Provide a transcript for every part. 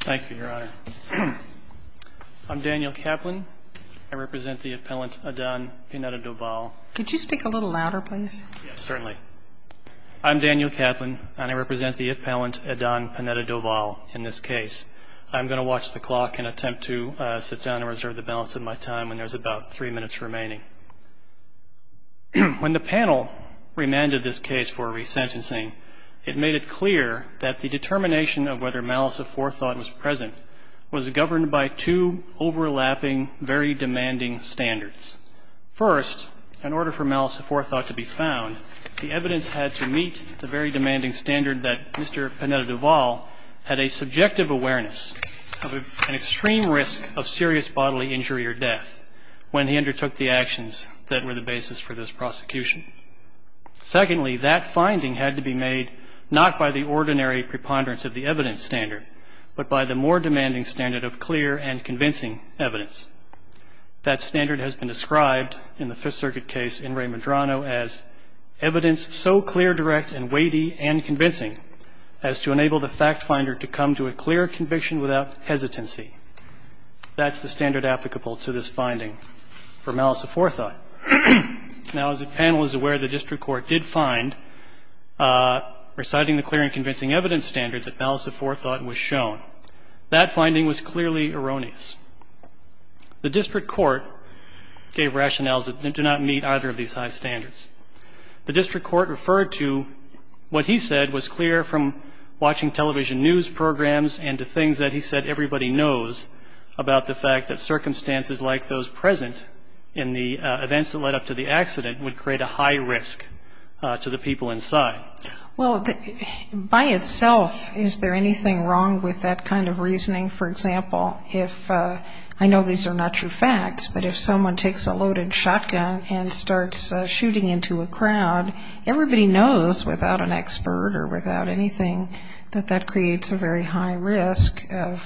Thank you, Your Honor. I'm Daniel Kaplan. I represent the appellant Adan Pineda-Doval. Could you speak a little louder, please? Yes, certainly. I'm Daniel Kaplan, and I represent the appellant Adan Pineda-Doval in this case. I'm going to watch the clock and attempt to sit down and reserve the balance of my time when there's about three minutes remaining. When the panel remanded this case for resentencing, it made it clear that the determination of whether malice of forethought was present was governed by two overlapping, very demanding standards. First, in order for malice of forethought to be found, the evidence had to meet the very demanding standard that Mr. Pineda-Doval had a subjective awareness of an extreme risk of serious bodily injury or death when he undertook the actions that were the basis for this prosecution. Secondly, that finding had to be made not by the ordinary preponderance of the evidence standard, but by the more demanding standard of clear and convincing evidence. That standard has been described in the Fifth Circuit case in Ray Medrano as evidence so clear, direct, and weighty and convincing as to enable the fact finder to come to a clear conviction without hesitancy. That's the standard applicable to this finding for malice of forethought. Now, as the panel is aware, the district court did find reciting the clear and convincing evidence standard that malice of forethought was shown. That finding was clearly erroneous. The district court gave rationales that do not meet either of these high standards. The district court referred to what he said was clear from watching television news programs and to things that he said everybody knows about the fact that circumstances like those present in the events that led up to the accident would create a high risk to the people inside. Well, by itself, is there anything wrong with that kind of reasoning? For example, if I know these are not true facts, but if someone takes a loaded shotgun and starts shooting into a crowd, everybody knows without an expert or without anything that that creates a very high risk of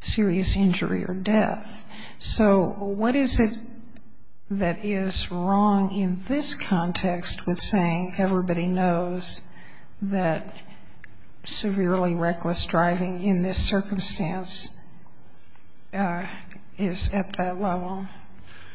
serious injury or death. So what is it that is wrong in this context with saying everybody knows that severely reckless driving in this circumstance is at that level?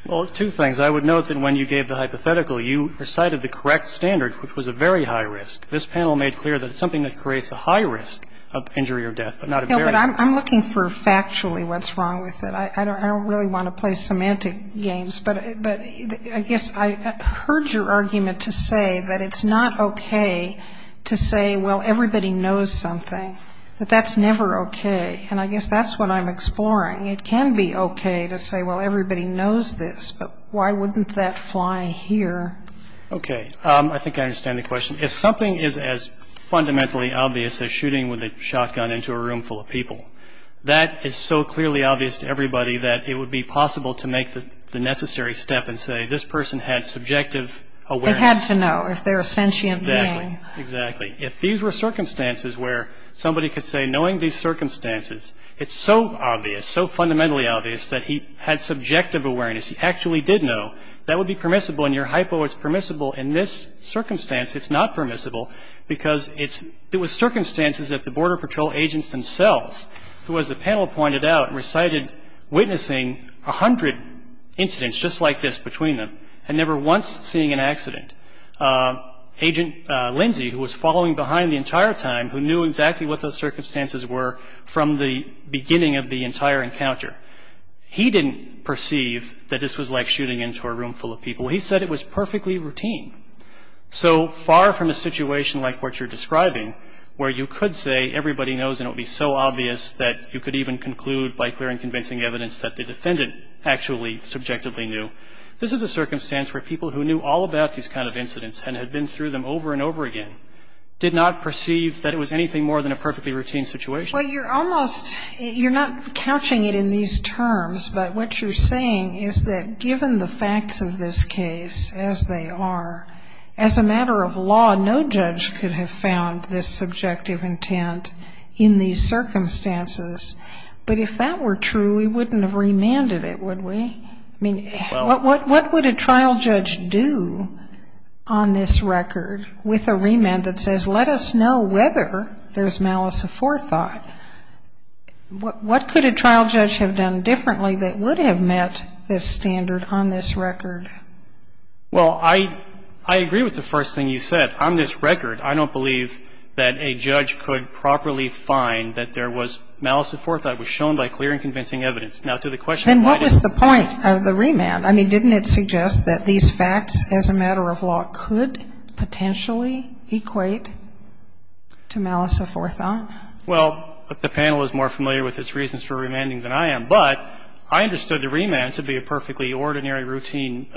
Well, two things. I would note that when you gave the hypothetical, you recited the correct standard, which was a very high risk. This panel made clear that it's something that creates a high risk of injury or death, but not a very high risk. No, but I'm looking for factually what's wrong with it. I don't really want to play semantic games. But I guess I heard your argument to say that it's not okay to say, well, everybody knows something, that that's never okay. And I guess that's what I'm exploring. It can be okay to say, well, everybody knows this, but why wouldn't that fly here? Okay. I think I understand the question. If something is as fundamentally obvious as shooting with a shotgun into a room full of people, that is so clearly obvious to everybody that it would be possible to make the necessary step and say, this person had subjective awareness. They had to know if they're a sentient being. Exactly. If these were circumstances where somebody could say, knowing these circumstances, it's so obvious, so fundamentally obvious, that he had subjective awareness, he actually did know, that would be permissible. And your hypo is permissible in this circumstance. It's not permissible because it was circumstances that the Border Patrol agents themselves, who, as the panel pointed out, recited witnessing 100 incidents just like this between them and never once seeing an accident. Agent Lindsey, who was following behind the entire time, who knew exactly what those circumstances were from the beginning of the entire encounter, he didn't perceive that this was like shooting into a room full of people. He said it was perfectly routine. So far from a situation like what you're describing, where you could say everybody knows and it would be so obvious that you could even conclude by clearing convincing evidence that the defendant actually subjectively knew, this is a circumstance where people who knew all about these kind of incidents and had been through them over and over again, did not perceive that it was anything more than a perfectly routine situation. Well, you're almost, you're not couching it in these terms, but what you're saying is that given the facts of this case as they are, as a matter of law, no judge could have found this subjective intent in these circumstances. But if that were true, we wouldn't have remanded it, would we? I mean, what would a trial judge do on this record with a remand that says, let us know whether there's malice aforethought? What could a trial judge have done differently that would have met this standard on this record? Well, I agree with the first thing you said. On this record, I don't believe that a judge could properly find that there was malice aforethought. It was shown by clear and convincing evidence. Now, to the question, why didn't we? Then what was the point of the remand? I mean, didn't it suggest that these facts, as a matter of law, could potentially equate to malice aforethought? Well, the panel is more familiar with its reasons for remanding than I am, but I understood the remand to be a perfectly ordinary routine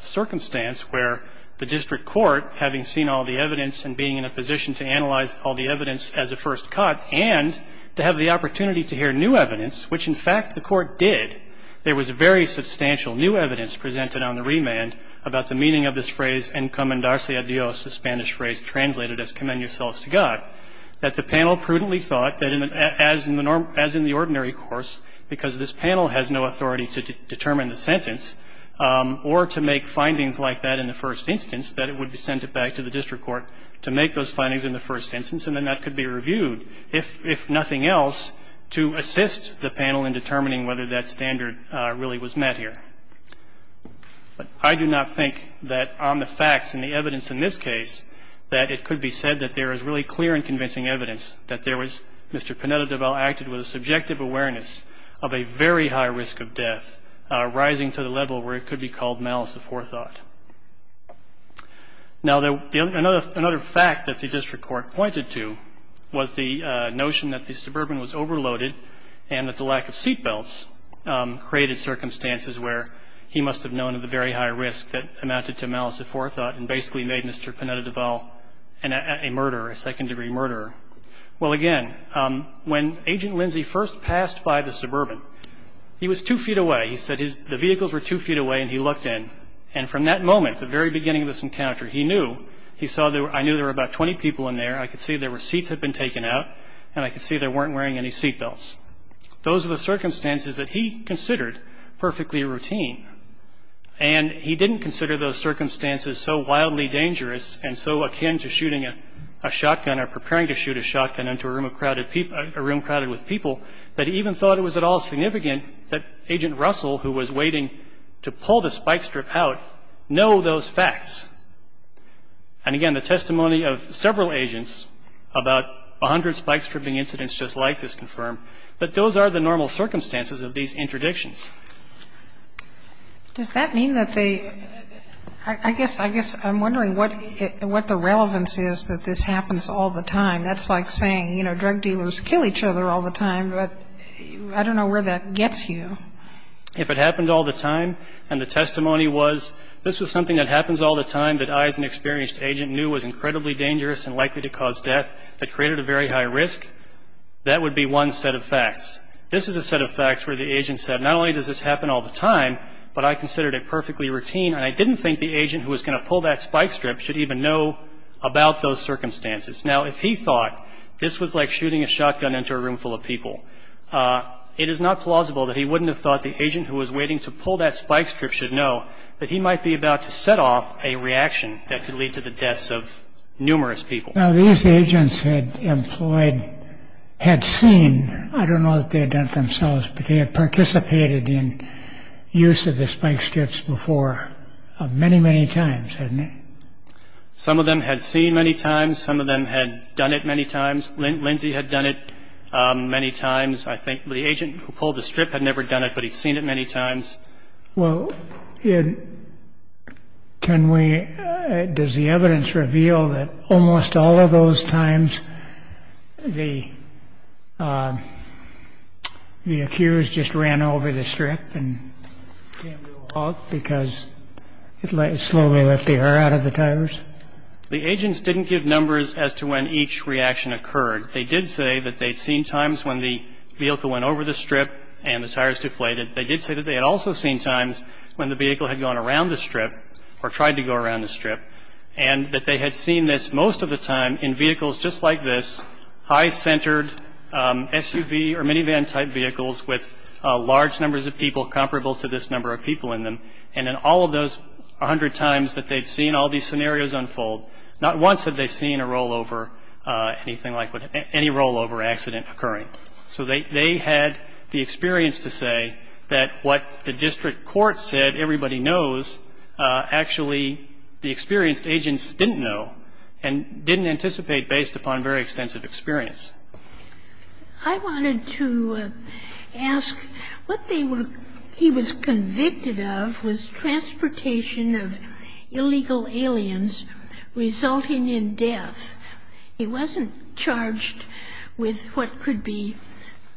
circumstance where the district court, having seen all the evidence and being in a position to analyze all the evidence as a first cut and to have the opportunity to hear new evidence, which, in fact, the court did. There was very substantial new evidence presented on the remand about the meaning of this phrase en commendarse a Dios, the Spanish phrase translated as commend yourselves to God, that the panel prudently thought that as in the ordinary course, because this panel has no authority to determine the sentence or to make findings like that in the first instance, that it would be sent back to the district court to make those findings in the first instance, and then that could be reviewed, if nothing else, to assist the panel in determining whether that standard really was met here. I do not think that on the facts and the evidence in this case that it could be said that there is really clear and convincing evidence that there was Mr. Pineda-Deval acted with a subjective awareness of a very high risk of death, rising to the level where it could be called malice aforethought. Now, another fact that the district court pointed to was the notion that the suburban was overloaded and that the lack of seatbelts created circumstances where he must have known of the very high risk that amounted to malice aforethought and basically made Mr. Pineda-Deval a murderer, a second-degree murderer. Well, again, when Agent Lindsay first passed by the suburban, he was two feet away. He said the vehicles were two feet away, and he looked in. And from that moment, the very beginning of this encounter, he knew. I knew there were about 20 people in there. I could see their seats had been taken out, and I could see they weren't wearing any seatbelts. Those are the circumstances that he considered perfectly routine, and he didn't consider those circumstances so wildly dangerous and so akin to shooting a shotgun or preparing to shoot a shotgun into a room crowded with people that he even thought it was at all significant that Agent Russell, who was waiting to pull the spike strip out, know those facts. And, again, the testimony of several agents about 100 spike stripping incidents just like this confirm that those are the normal circumstances of these interdictions. Does that mean that they – I guess I'm wondering what the relevance is that this happens all the time. That's like saying, you know, drug dealers kill each other all the time, but I don't know where that gets you. If it happened all the time and the testimony was, this was something that happens all the time that I as an experienced agent knew was incredibly dangerous and likely to cause death that created a very high risk, that would be one set of facts. This is a set of facts where the agent said, not only does this happen all the time, but I considered it perfectly routine, and I didn't think the agent who was going to pull that spike strip should even know about those circumstances. Now, if he thought this was like shooting a shotgun into a room full of people, it is not plausible that he wouldn't have thought the agent who was waiting to pull that spike strip should know that he might be about to set off a reaction that could lead to the deaths of numerous people. Now, these agents had employed – had seen – I don't know that they had done it themselves, but they had participated in use of the spike strips before many, many times, hadn't they? Some of them had seen many times. Some of them had done it many times. Lindsey had done it many times. I think the agent who pulled the strip had never done it, but he'd seen it many times. Well, can we – does the evidence reveal that almost all of those times the accused just ran over the strip and came to a halt because it slowly let the air out of the tires? The agents didn't give numbers as to when each reaction occurred. They did say that they'd seen times when the vehicle went over the strip and the tires deflated. They did say that they had also seen times when the vehicle had gone around the strip or tried to go around the strip and that they had seen this most of the time in vehicles just like this, high-centered SUV or minivan-type vehicles with large numbers of people comparable to this number of people in them. And then all of those hundred times that they'd seen all these scenarios unfold, not once had they seen a rollover, anything like any rollover accident occurring. So they had the experience to say that what the district court said everybody knows, actually the experienced agents didn't know and didn't anticipate based upon very extensive experience. I wanted to ask what they were – he was convicted of was transportation of illegal aliens resulting in death. He wasn't charged with what could be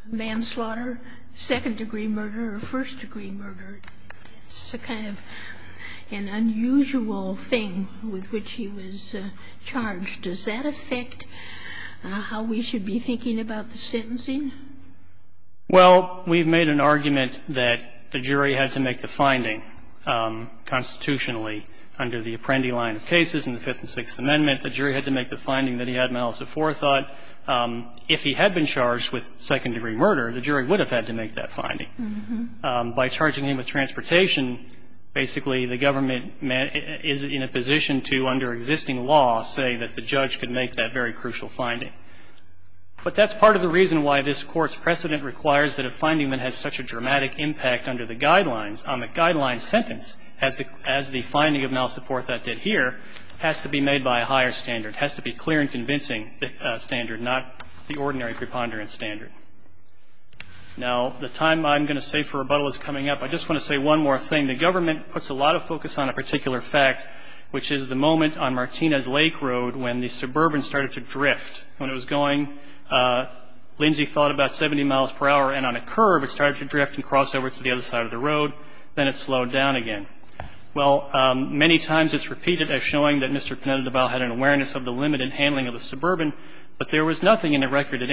manslaughter, second-degree murder or first-degree murder. It's a kind of an unusual thing with which he was charged. Does that affect how we should be thinking about the sentencing? Well, we've made an argument that the jury had to make the finding constitutionally under the Apprendi line of cases in the Fifth and Sixth Amendment. The jury had to make the finding that he had malice of forethought. If he had been charged with second-degree murder, the jury would have had to make that finding. By charging him with transportation, basically the government is in a position to, under existing law, say that the judge could make that very crucial finding. But that's part of the reason why this Court's precedent requires that a finding that has such a dramatic impact under the Guidelines, on the Guidelines sentence, as the finding of malice of forethought did here, has to be made by a higher standard, has to be clear and convincing standard, not the ordinary preponderance standard. Now, the time I'm going to save for rebuttal is coming up. I just want to say one more thing. When the government puts a lot of focus on a particular fact, which is the moment on Martinez Lake Road when the Suburban started to drift. When it was going, Lindsey thought, about 70 miles per hour, and on a curve it started to drift and cross over to the other side of the road, then it slowed down again. Well, many times it's repeated as showing that Mr. Pineda-Deval had an awareness of the limit in handling of the Suburban, but there was nothing in the record that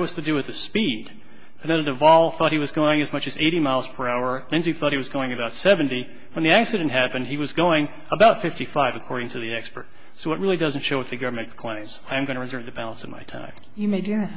was to do with the speed. Pineda-Deval thought he was going as much as 80 miles per hour. Lindsey thought he was going about 70. When the accident happened, he was going about 55, according to the expert. So it really doesn't show what the government claims. I am going to reserve the balance of my time. You may do that.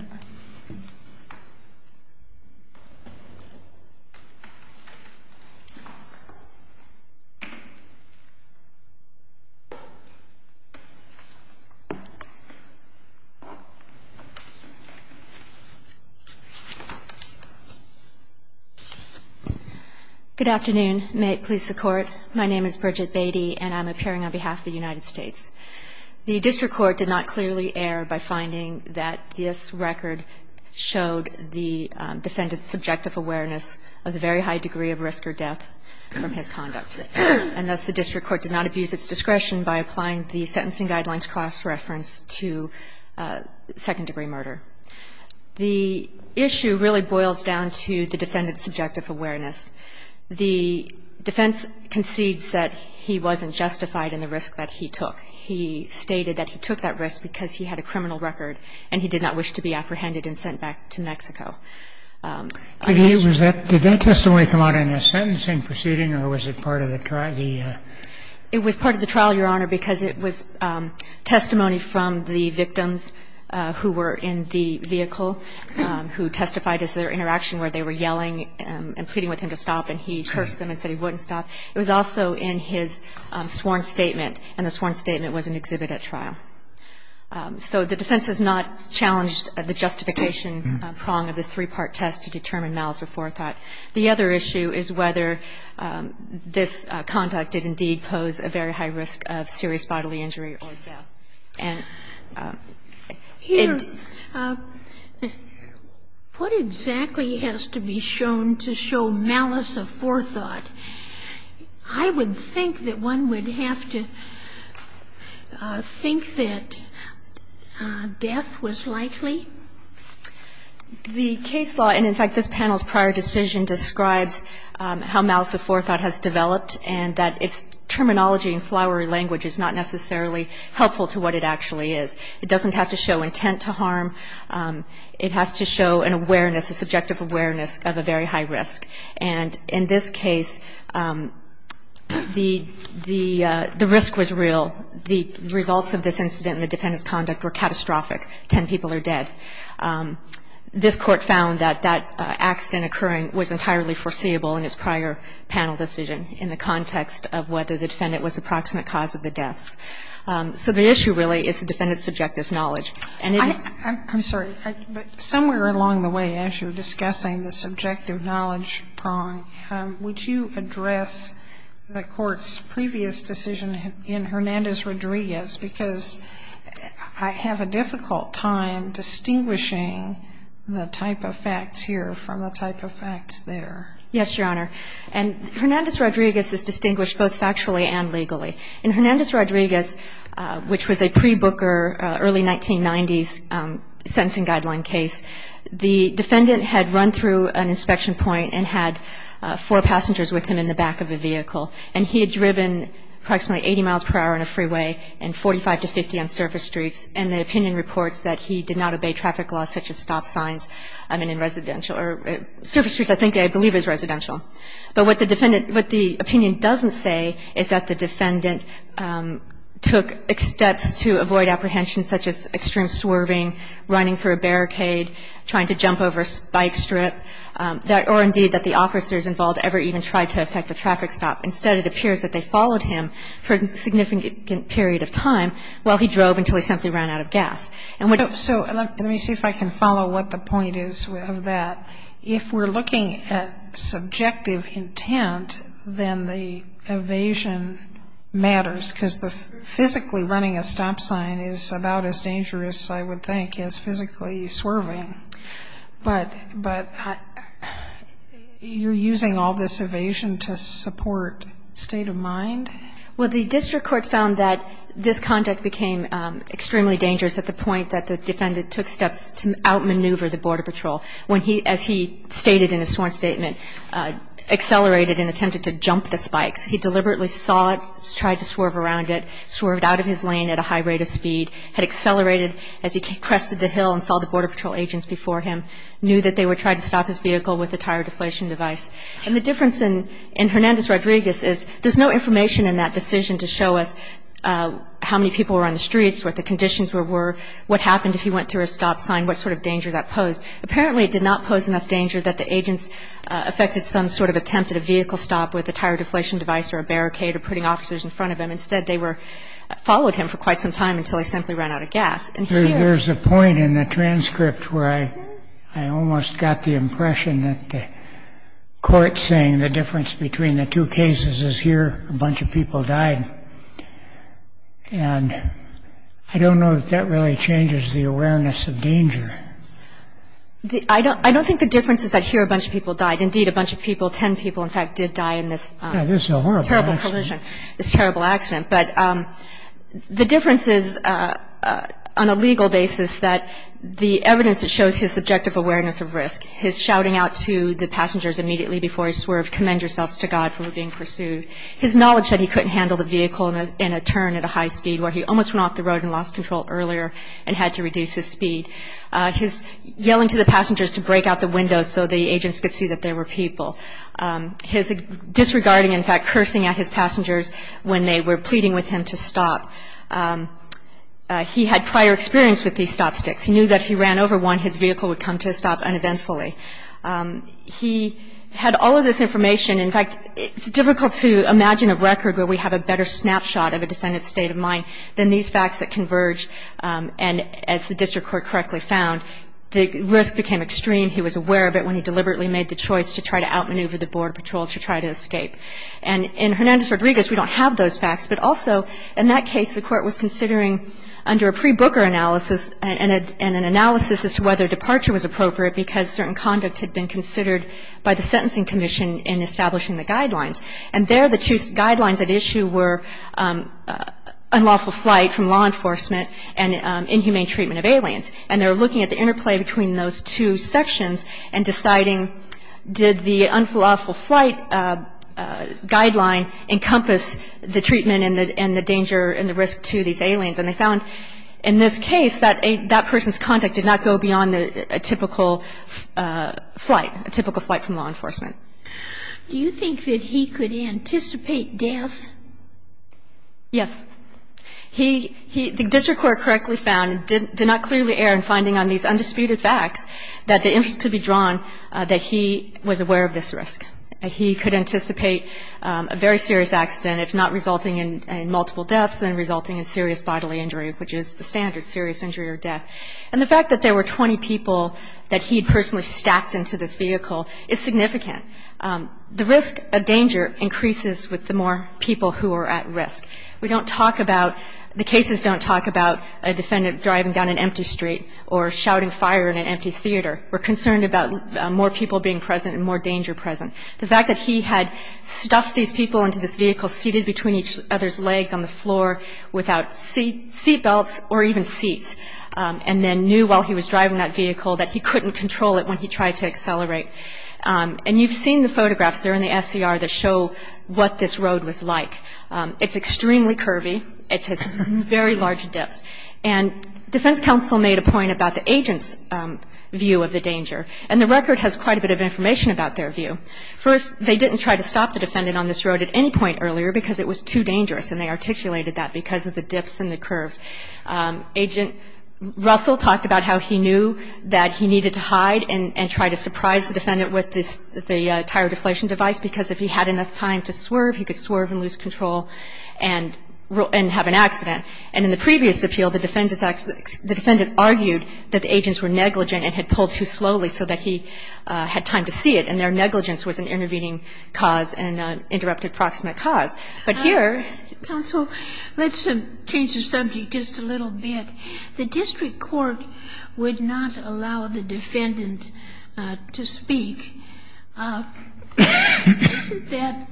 Good afternoon. May it please the Court. My name is Bridget Beatty, and I'm appearing on behalf of the United States. The district court did not clearly err by finding that this record showed the defendant's subjective awareness of the very high degree of risk or death from his conduct, and thus the district court did not abuse its discretion by applying the sentencing guidelines cross-reference to second-degree murder. The issue really boils down to the defendant's subjective awareness. The defense concedes that he wasn't justified in the risk that he took. He stated that he took that risk because he had a criminal record, and he did not wish to be apprehended and sent back to Mexico. Did that testimony come out in a sentencing proceeding, or was it part of the trial? It was part of the trial, Your Honor, because it was testimony from the victims who were in the vehicle who testified as their interaction where they were yelling and pleading with him to stop, and he cursed them and said he wouldn't stop. It was also in his sworn statement, and the sworn statement was an exhibit at trial. So the defense has not challenged the justification prong of the three-part test to determine malice or forethought. The other issue is whether this conduct did indeed pose a very high risk of serious bodily injury or death. And it's not evident by the evidence that the defense admittedly ingrained It's just a fact of the facts. And here, what exactly has to be shown to show malice of forethought? I would think that one would have to think that death was likely. The case law, and in fact this panel's prior decision, describes how malice of forethought has developed and that its terminology and flowery language is not necessarily helpful to what it actually is. It doesn't have to show intent to harm. It has to show an awareness, a subjective awareness of a very high risk. And in this case, the risk was real. The results of this incident in the defendant's conduct were catastrophic. Ten people are dead. This court found that that accident occurring was entirely foreseeable in its prior panel decision in the context of whether the defendant was the proximate cause of the deaths. So the issue really is the defendant's subjective knowledge. And it is I'm sorry. Somewhere along the way, as you were discussing the subjective knowledge prong, would you address the Court's previous decision in Hernandez-Rodriguez? Because I have a difficult time distinguishing the type of facts here from the type of facts there. Yes, Your Honor. And Hernandez-Rodriguez is distinguished both factually and legally. In Hernandez-Rodriguez, which was a pre-Booker early 1990s sentencing guideline case, the defendant had run through an inspection point and had four passengers with him in the back of a vehicle. And he had driven approximately 80 miles per hour on a freeway and 45 to 50 on surface streets. And the opinion reports that he did not obey traffic laws such as stop signs, I mean, in residential or surface streets I think I believe is residential. But what the defendant, what the opinion doesn't say is that the defendant took steps to avoid apprehension such as extreme swerving, running through a barricade, trying to jump over a bike strip, or indeed that the officers involved ever even tried to affect a traffic stop. Instead, it appears that they followed him for a significant period of time while he drove until he simply ran out of gas. And what's So let me see if I can follow what the point is of that. If we're looking at subjective intent, then the evasion matters because physically running a stop sign is about as dangerous, I would think, as physically swerving. But you're using all this evasion to support state of mind? Well, the district court found that this conduct became extremely dangerous at the point that the defendant took steps to outmaneuver the Border Patrol. As he stated in his sworn statement, accelerated and attempted to jump the spikes. He deliberately saw it, tried to swerve around it, swerved out of his lane at a high rate of speed, had accelerated as he crested the hill and saw the Border Patrol agents before him, knew that they were trying to stop his vehicle with a tire deflation device. And the difference in Hernandez-Rodriguez is there's no information in that decision to show us how many people were on the streets, what the conditions were, what happened if he went through a stop sign, what sort of danger that posed. Apparently, it did not pose enough danger that the agents affected some sort of attempt at a vehicle stop with a tire deflation device or a barricade or putting officers in front of him. Instead, they followed him for quite some time until he simply ran out of gas. There's a point in the transcript where I almost got the impression that the court saying the difference between the two cases is here, a bunch of people died. And I don't know that that really changes the awareness of danger. I don't think the difference is I hear a bunch of people died. Indeed, a bunch of people, 10 people, in fact, did die in this terrible collision, this terrible accident. But the difference is on a legal basis that the evidence that shows his subjective awareness of risk, his shouting out to the passengers immediately before he swerved, from being pursued, his knowledge that he couldn't handle the vehicle in a turn at a high speed where he almost went off the road and lost control earlier and had to reduce his speed, his yelling to the passengers to break out the windows so the agents could see that there were people, his disregarding, in fact, cursing at his passengers when they were pleading with him to stop. He had prior experience with these stop sticks. He knew that if he ran over one, his vehicle would come to a stop uneventfully. He had all of this information. In fact, it's difficult to imagine a record where we have a better snapshot of a defendant's state of mind than these facts that converge. And as the district court correctly found, the risk became extreme. He was aware of it when he deliberately made the choice to try to outmaneuver the Border Patrol to try to escape. And in Hernandez-Rodriguez, we don't have those facts. But also, in that case, the court was considering under a pre-Booker analysis as to whether departure was appropriate because certain conduct had been considered by the Sentencing Commission in establishing the guidelines. And there, the two guidelines at issue were unlawful flight from law enforcement and inhumane treatment of aliens. And they were looking at the interplay between those two sections and deciding, did the unlawful flight guideline encompass the treatment and the danger and the risk to these aliens? And they found, in this case, that that person's conduct did not go beyond a typical flight, a typical flight from law enforcement. Do you think that he could anticipate death? Yes. The district court correctly found, did not clearly err in finding on these undisputed facts, that the interest could be drawn that he was aware of this risk. He could anticipate a very serious accident, if not resulting in multiple deaths, then resulting in serious bodily injury, which is the standard, serious injury or death. And the fact that there were 20 people that he had personally stacked into this vehicle is significant. The risk of danger increases with the more people who are at risk. We don't talk about, the cases don't talk about a defendant driving down an empty street or shouting fire in an empty theater. We're concerned about more people being present and more danger present. The fact that he had stuffed these people into this vehicle, seated between each other's legs on the floor without seat belts or even seats, and then knew while he was driving that vehicle that he couldn't control it when he tried to accelerate. And you've seen the photographs. They're in the SCR that show what this road was like. It's extremely curvy. It has very large dips. And defense counsel made a point about the agent's view of the danger. And the record has quite a bit of information about their view. First, they didn't try to stop the defendant on this road at any point earlier because it was too dangerous. And they articulated that because of the dips and the curves. Agent Russell talked about how he knew that he needed to hide and try to surprise the defendant with the tire deflation device because if he had enough time to swerve, he could swerve and lose control and have an accident. And in the previous appeal, the defendant argued that the agents were negligent and had pulled too slowly so that he had time to see it. And their negligence was an intervening cause and an interrupted proximate cause. But here ---- Kagan. Counsel, let's change the subject just a little bit. The district court would not allow the defendant to speak. Isn't that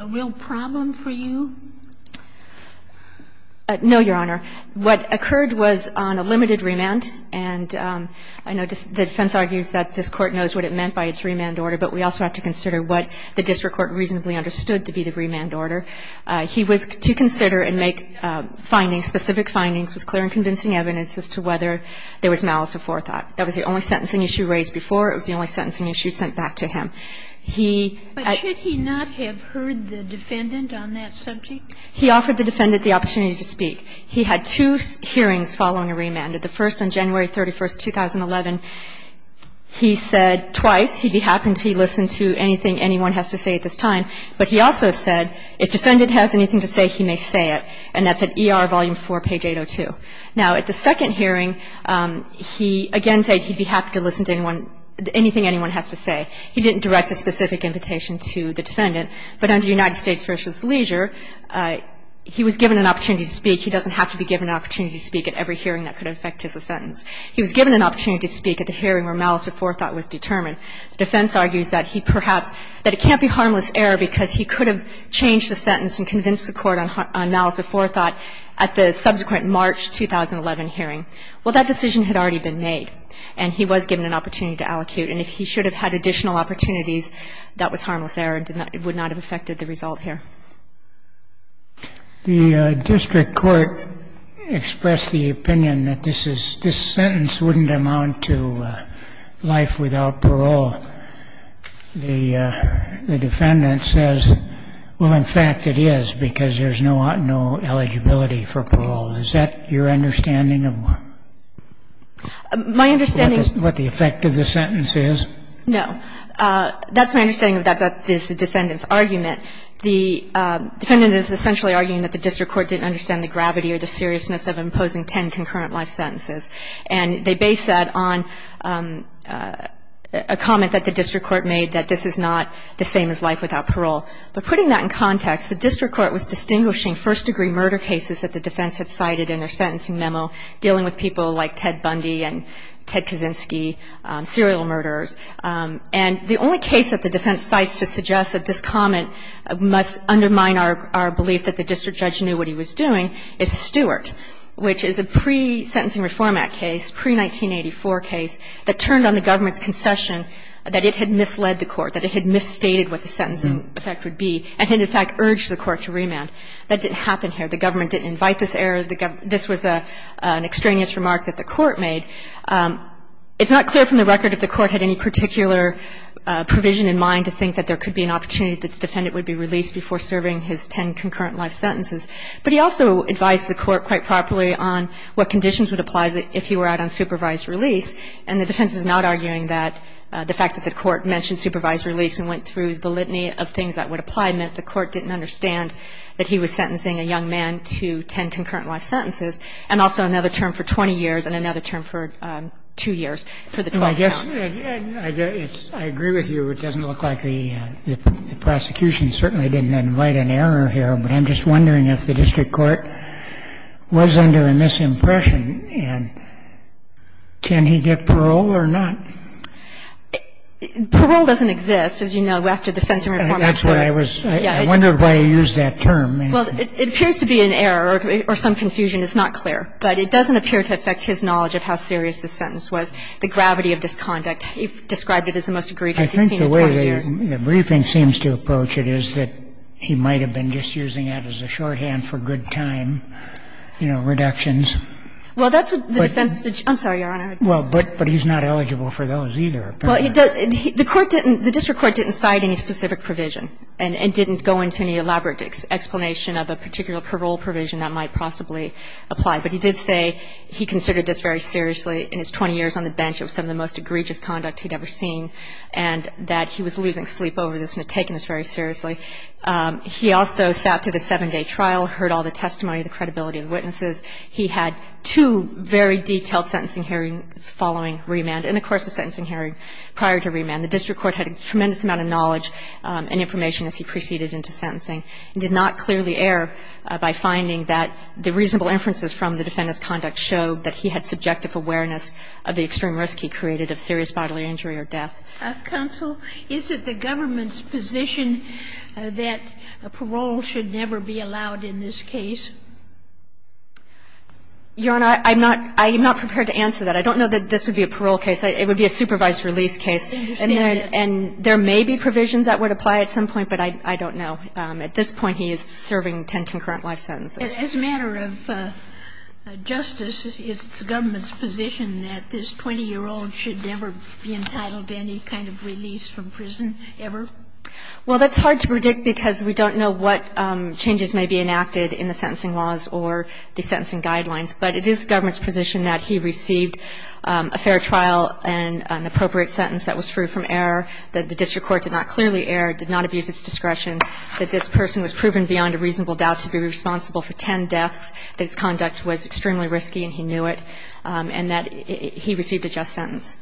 a real problem for you? No, Your Honor. What occurred was on a limited remand. And I know the defense argues that this Court knows what it meant by its remand order, but we also have to consider what the district court reasonably understood to be the remand order. He was to consider and make findings, specific findings with clear and convincing evidence as to whether there was malice or forethought. That was the only sentencing issue raised before. It was the only sentencing issue sent back to him. He ---- But should he not have heard the defendant on that subject? He offered the defendant the opportunity to speak. He had two hearings following a remand. At the first on January 31st, 2011, he said twice he'd be happy to listen to anything anyone has to say at this time. But he also said if defendant has anything to say, he may say it. And that's at ER Volume 4, page 802. Now, at the second hearing, he again said he'd be happy to listen to anyone, anything anyone has to say. He didn't direct a specific invitation to the defendant. But under United States v. Leisure, he was given an opportunity to speak. He doesn't have to be given an opportunity to speak at every hearing that could affect his sentence. He was given an opportunity to speak at the hearing where malice or forethought was determined. The defense argues that he perhaps ---- that it can't be harmless error because he could have changed the sentence and convinced the Court on malice or forethought at the subsequent March 2011 hearing. Well, that decision had already been made. And he was given an opportunity to allocute. And if he should have had additional opportunities, that was harmless error and did not ---- would not have affected the result here. The district court expressed the opinion that this is ---- this sentence wouldn't amount to life without parole. The defendant says, well, in fact, it is because there's no eligibility for parole. Is that your understanding of what ---- My understanding ---- What the effect of the sentence is? No. That's my understanding of that. That is the defendant's argument. The defendant is essentially arguing that the district court didn't understand the gravity or the seriousness of imposing ten concurrent life sentences. And they base that on a comment that the district court made, that this is not the same as life without parole. But putting that in context, the district court was distinguishing first-degree murder cases that the defense had cited in their sentencing memo dealing with people like Ted Bundy and Ted Kaczynski, serial murderers. And the only case that the defense cites to suggest that this comment must undermine our belief that the district judge knew what he was doing is Stewart, which is a pre-sentencing reform act case, pre-1984 case, that turned on the government's concession that it had misled the court, that it had misstated what the sentencing effect would be, and in fact urged the court to remand. That didn't happen here. The government didn't invite this error. This was an extraneous remark that the court made. It's not clear from the record if the court had any particular provision in mind to think that there could be an opportunity that the defendant would be released before serving his ten concurrent life sentences. But he also advised the court quite properly on what conditions would apply if he were out on supervised release. And the defense is not arguing that the fact that the court mentioned supervised release and went through the litany of things that would apply meant the court didn't understand that he was sentencing a young man to ten concurrent life sentences and also another term for 20 years and another term for two years for the 12 counts. And I guess I agree with you. It doesn't look like the prosecution certainly didn't invite an error here, but I'm just wondering if the district court was under a misimpression, and can he get parole or not? Parole doesn't exist, as you know, after the sentencing reform act case. That's what I was – I wondered why you used that term. Well, it appears to be an error or some confusion. It's not clear. But it doesn't appear to affect his knowledge of how serious the sentence was. The gravity of this conduct, he described it as the most egregious he'd seen in 20 years. I think the way the briefing seems to approach it is that he might have been just using that as a shorthand for good time, you know, reductions. Well, that's what the defense – I'm sorry, Your Honor. Well, but he's not eligible for those either, apparently. Well, the court didn't – the district court didn't cite any specific provision and didn't go into any elaborate explanation of a particular parole provision that might possibly apply. But he did say he considered this very seriously. In his 20 years on the bench, it was some of the most egregious conduct he'd ever seen, and that he was losing sleep over this and had taken this very seriously. He also sat through the 7-day trial, heard all the testimony, the credibility of the witnesses. He had two very detailed sentencing hearings following remand. In the course of sentencing hearing prior to remand, the district court had a tremendous amount of knowledge and information as he proceeded into sentencing, and did not clearly err by finding that the reasonable inferences from the defendant's conduct showed that he had subjective awareness of the extreme risk he created of serious bodily injury or death. Counsel, is it the government's position that parole should never be allowed in this case? Your Honor, I'm not – I am not prepared to answer that. I don't know that this would be a parole case. It would be a supervised release case. And there may be provisions that would apply at some point, but I don't know. At this point, he is serving 10 concurrent life sentences. As a matter of justice, is it the government's position that this 20-year-old should never be entitled to any kind of release from prison ever? Well, that's hard to predict because we don't know what changes may be enacted in the sentencing laws or the sentencing guidelines, but it is the government's position that he received a fair trial and an appropriate sentence that was true from error, that the district court did not clearly err, did not abuse its discretion. That this person was proven beyond a reasonable doubt to be responsible for 10 deaths, that his conduct was extremely risky and he knew it, and that he received a just sentence.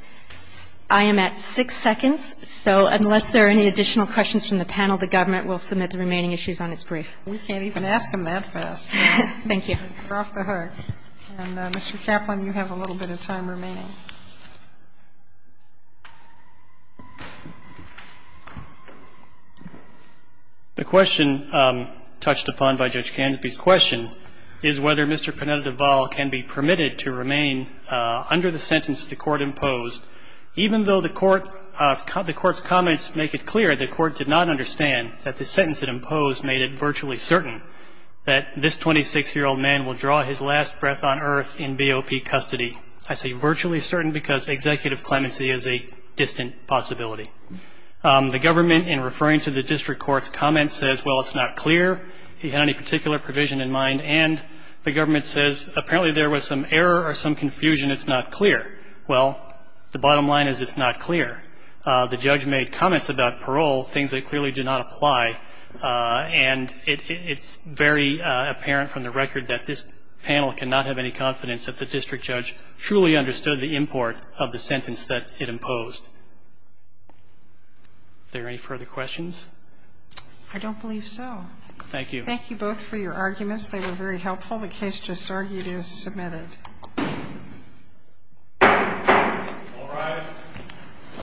I am at 6 seconds. So unless there are any additional questions from the panel, the government will submit the remaining issues on its brief. We can't even ask them that fast. Thank you. You're off the hook. And, Mr. Kaplan, you have a little bit of time remaining. The question touched upon by Judge Canopy's question is whether Mr. Pineda-Deval can be permitted to remain under the sentence the court imposed, even though the court's comments make it clear the court did not understand that the sentence it imposed made it virtually certain that this 26-year-old man will draw his last breath on earth in BOP custody. I say virtually certain because executive clemency is a distant possibility. The government, in referring to the district court's comments, says, well, it's not clear, he had any particular provision in mind, and the government says, apparently there was some error or some confusion, it's not clear. Well, the bottom line is it's not clear. The judge made comments about parole, things that clearly do not apply. And it's very apparent from the record that this panel cannot have any confidence that the district judge truly understood the import of the sentence that it imposed. Are there any further questions? I don't believe so. Thank you. Thank you both for your arguments. They were very helpful. The case just argued is submitted. All rise.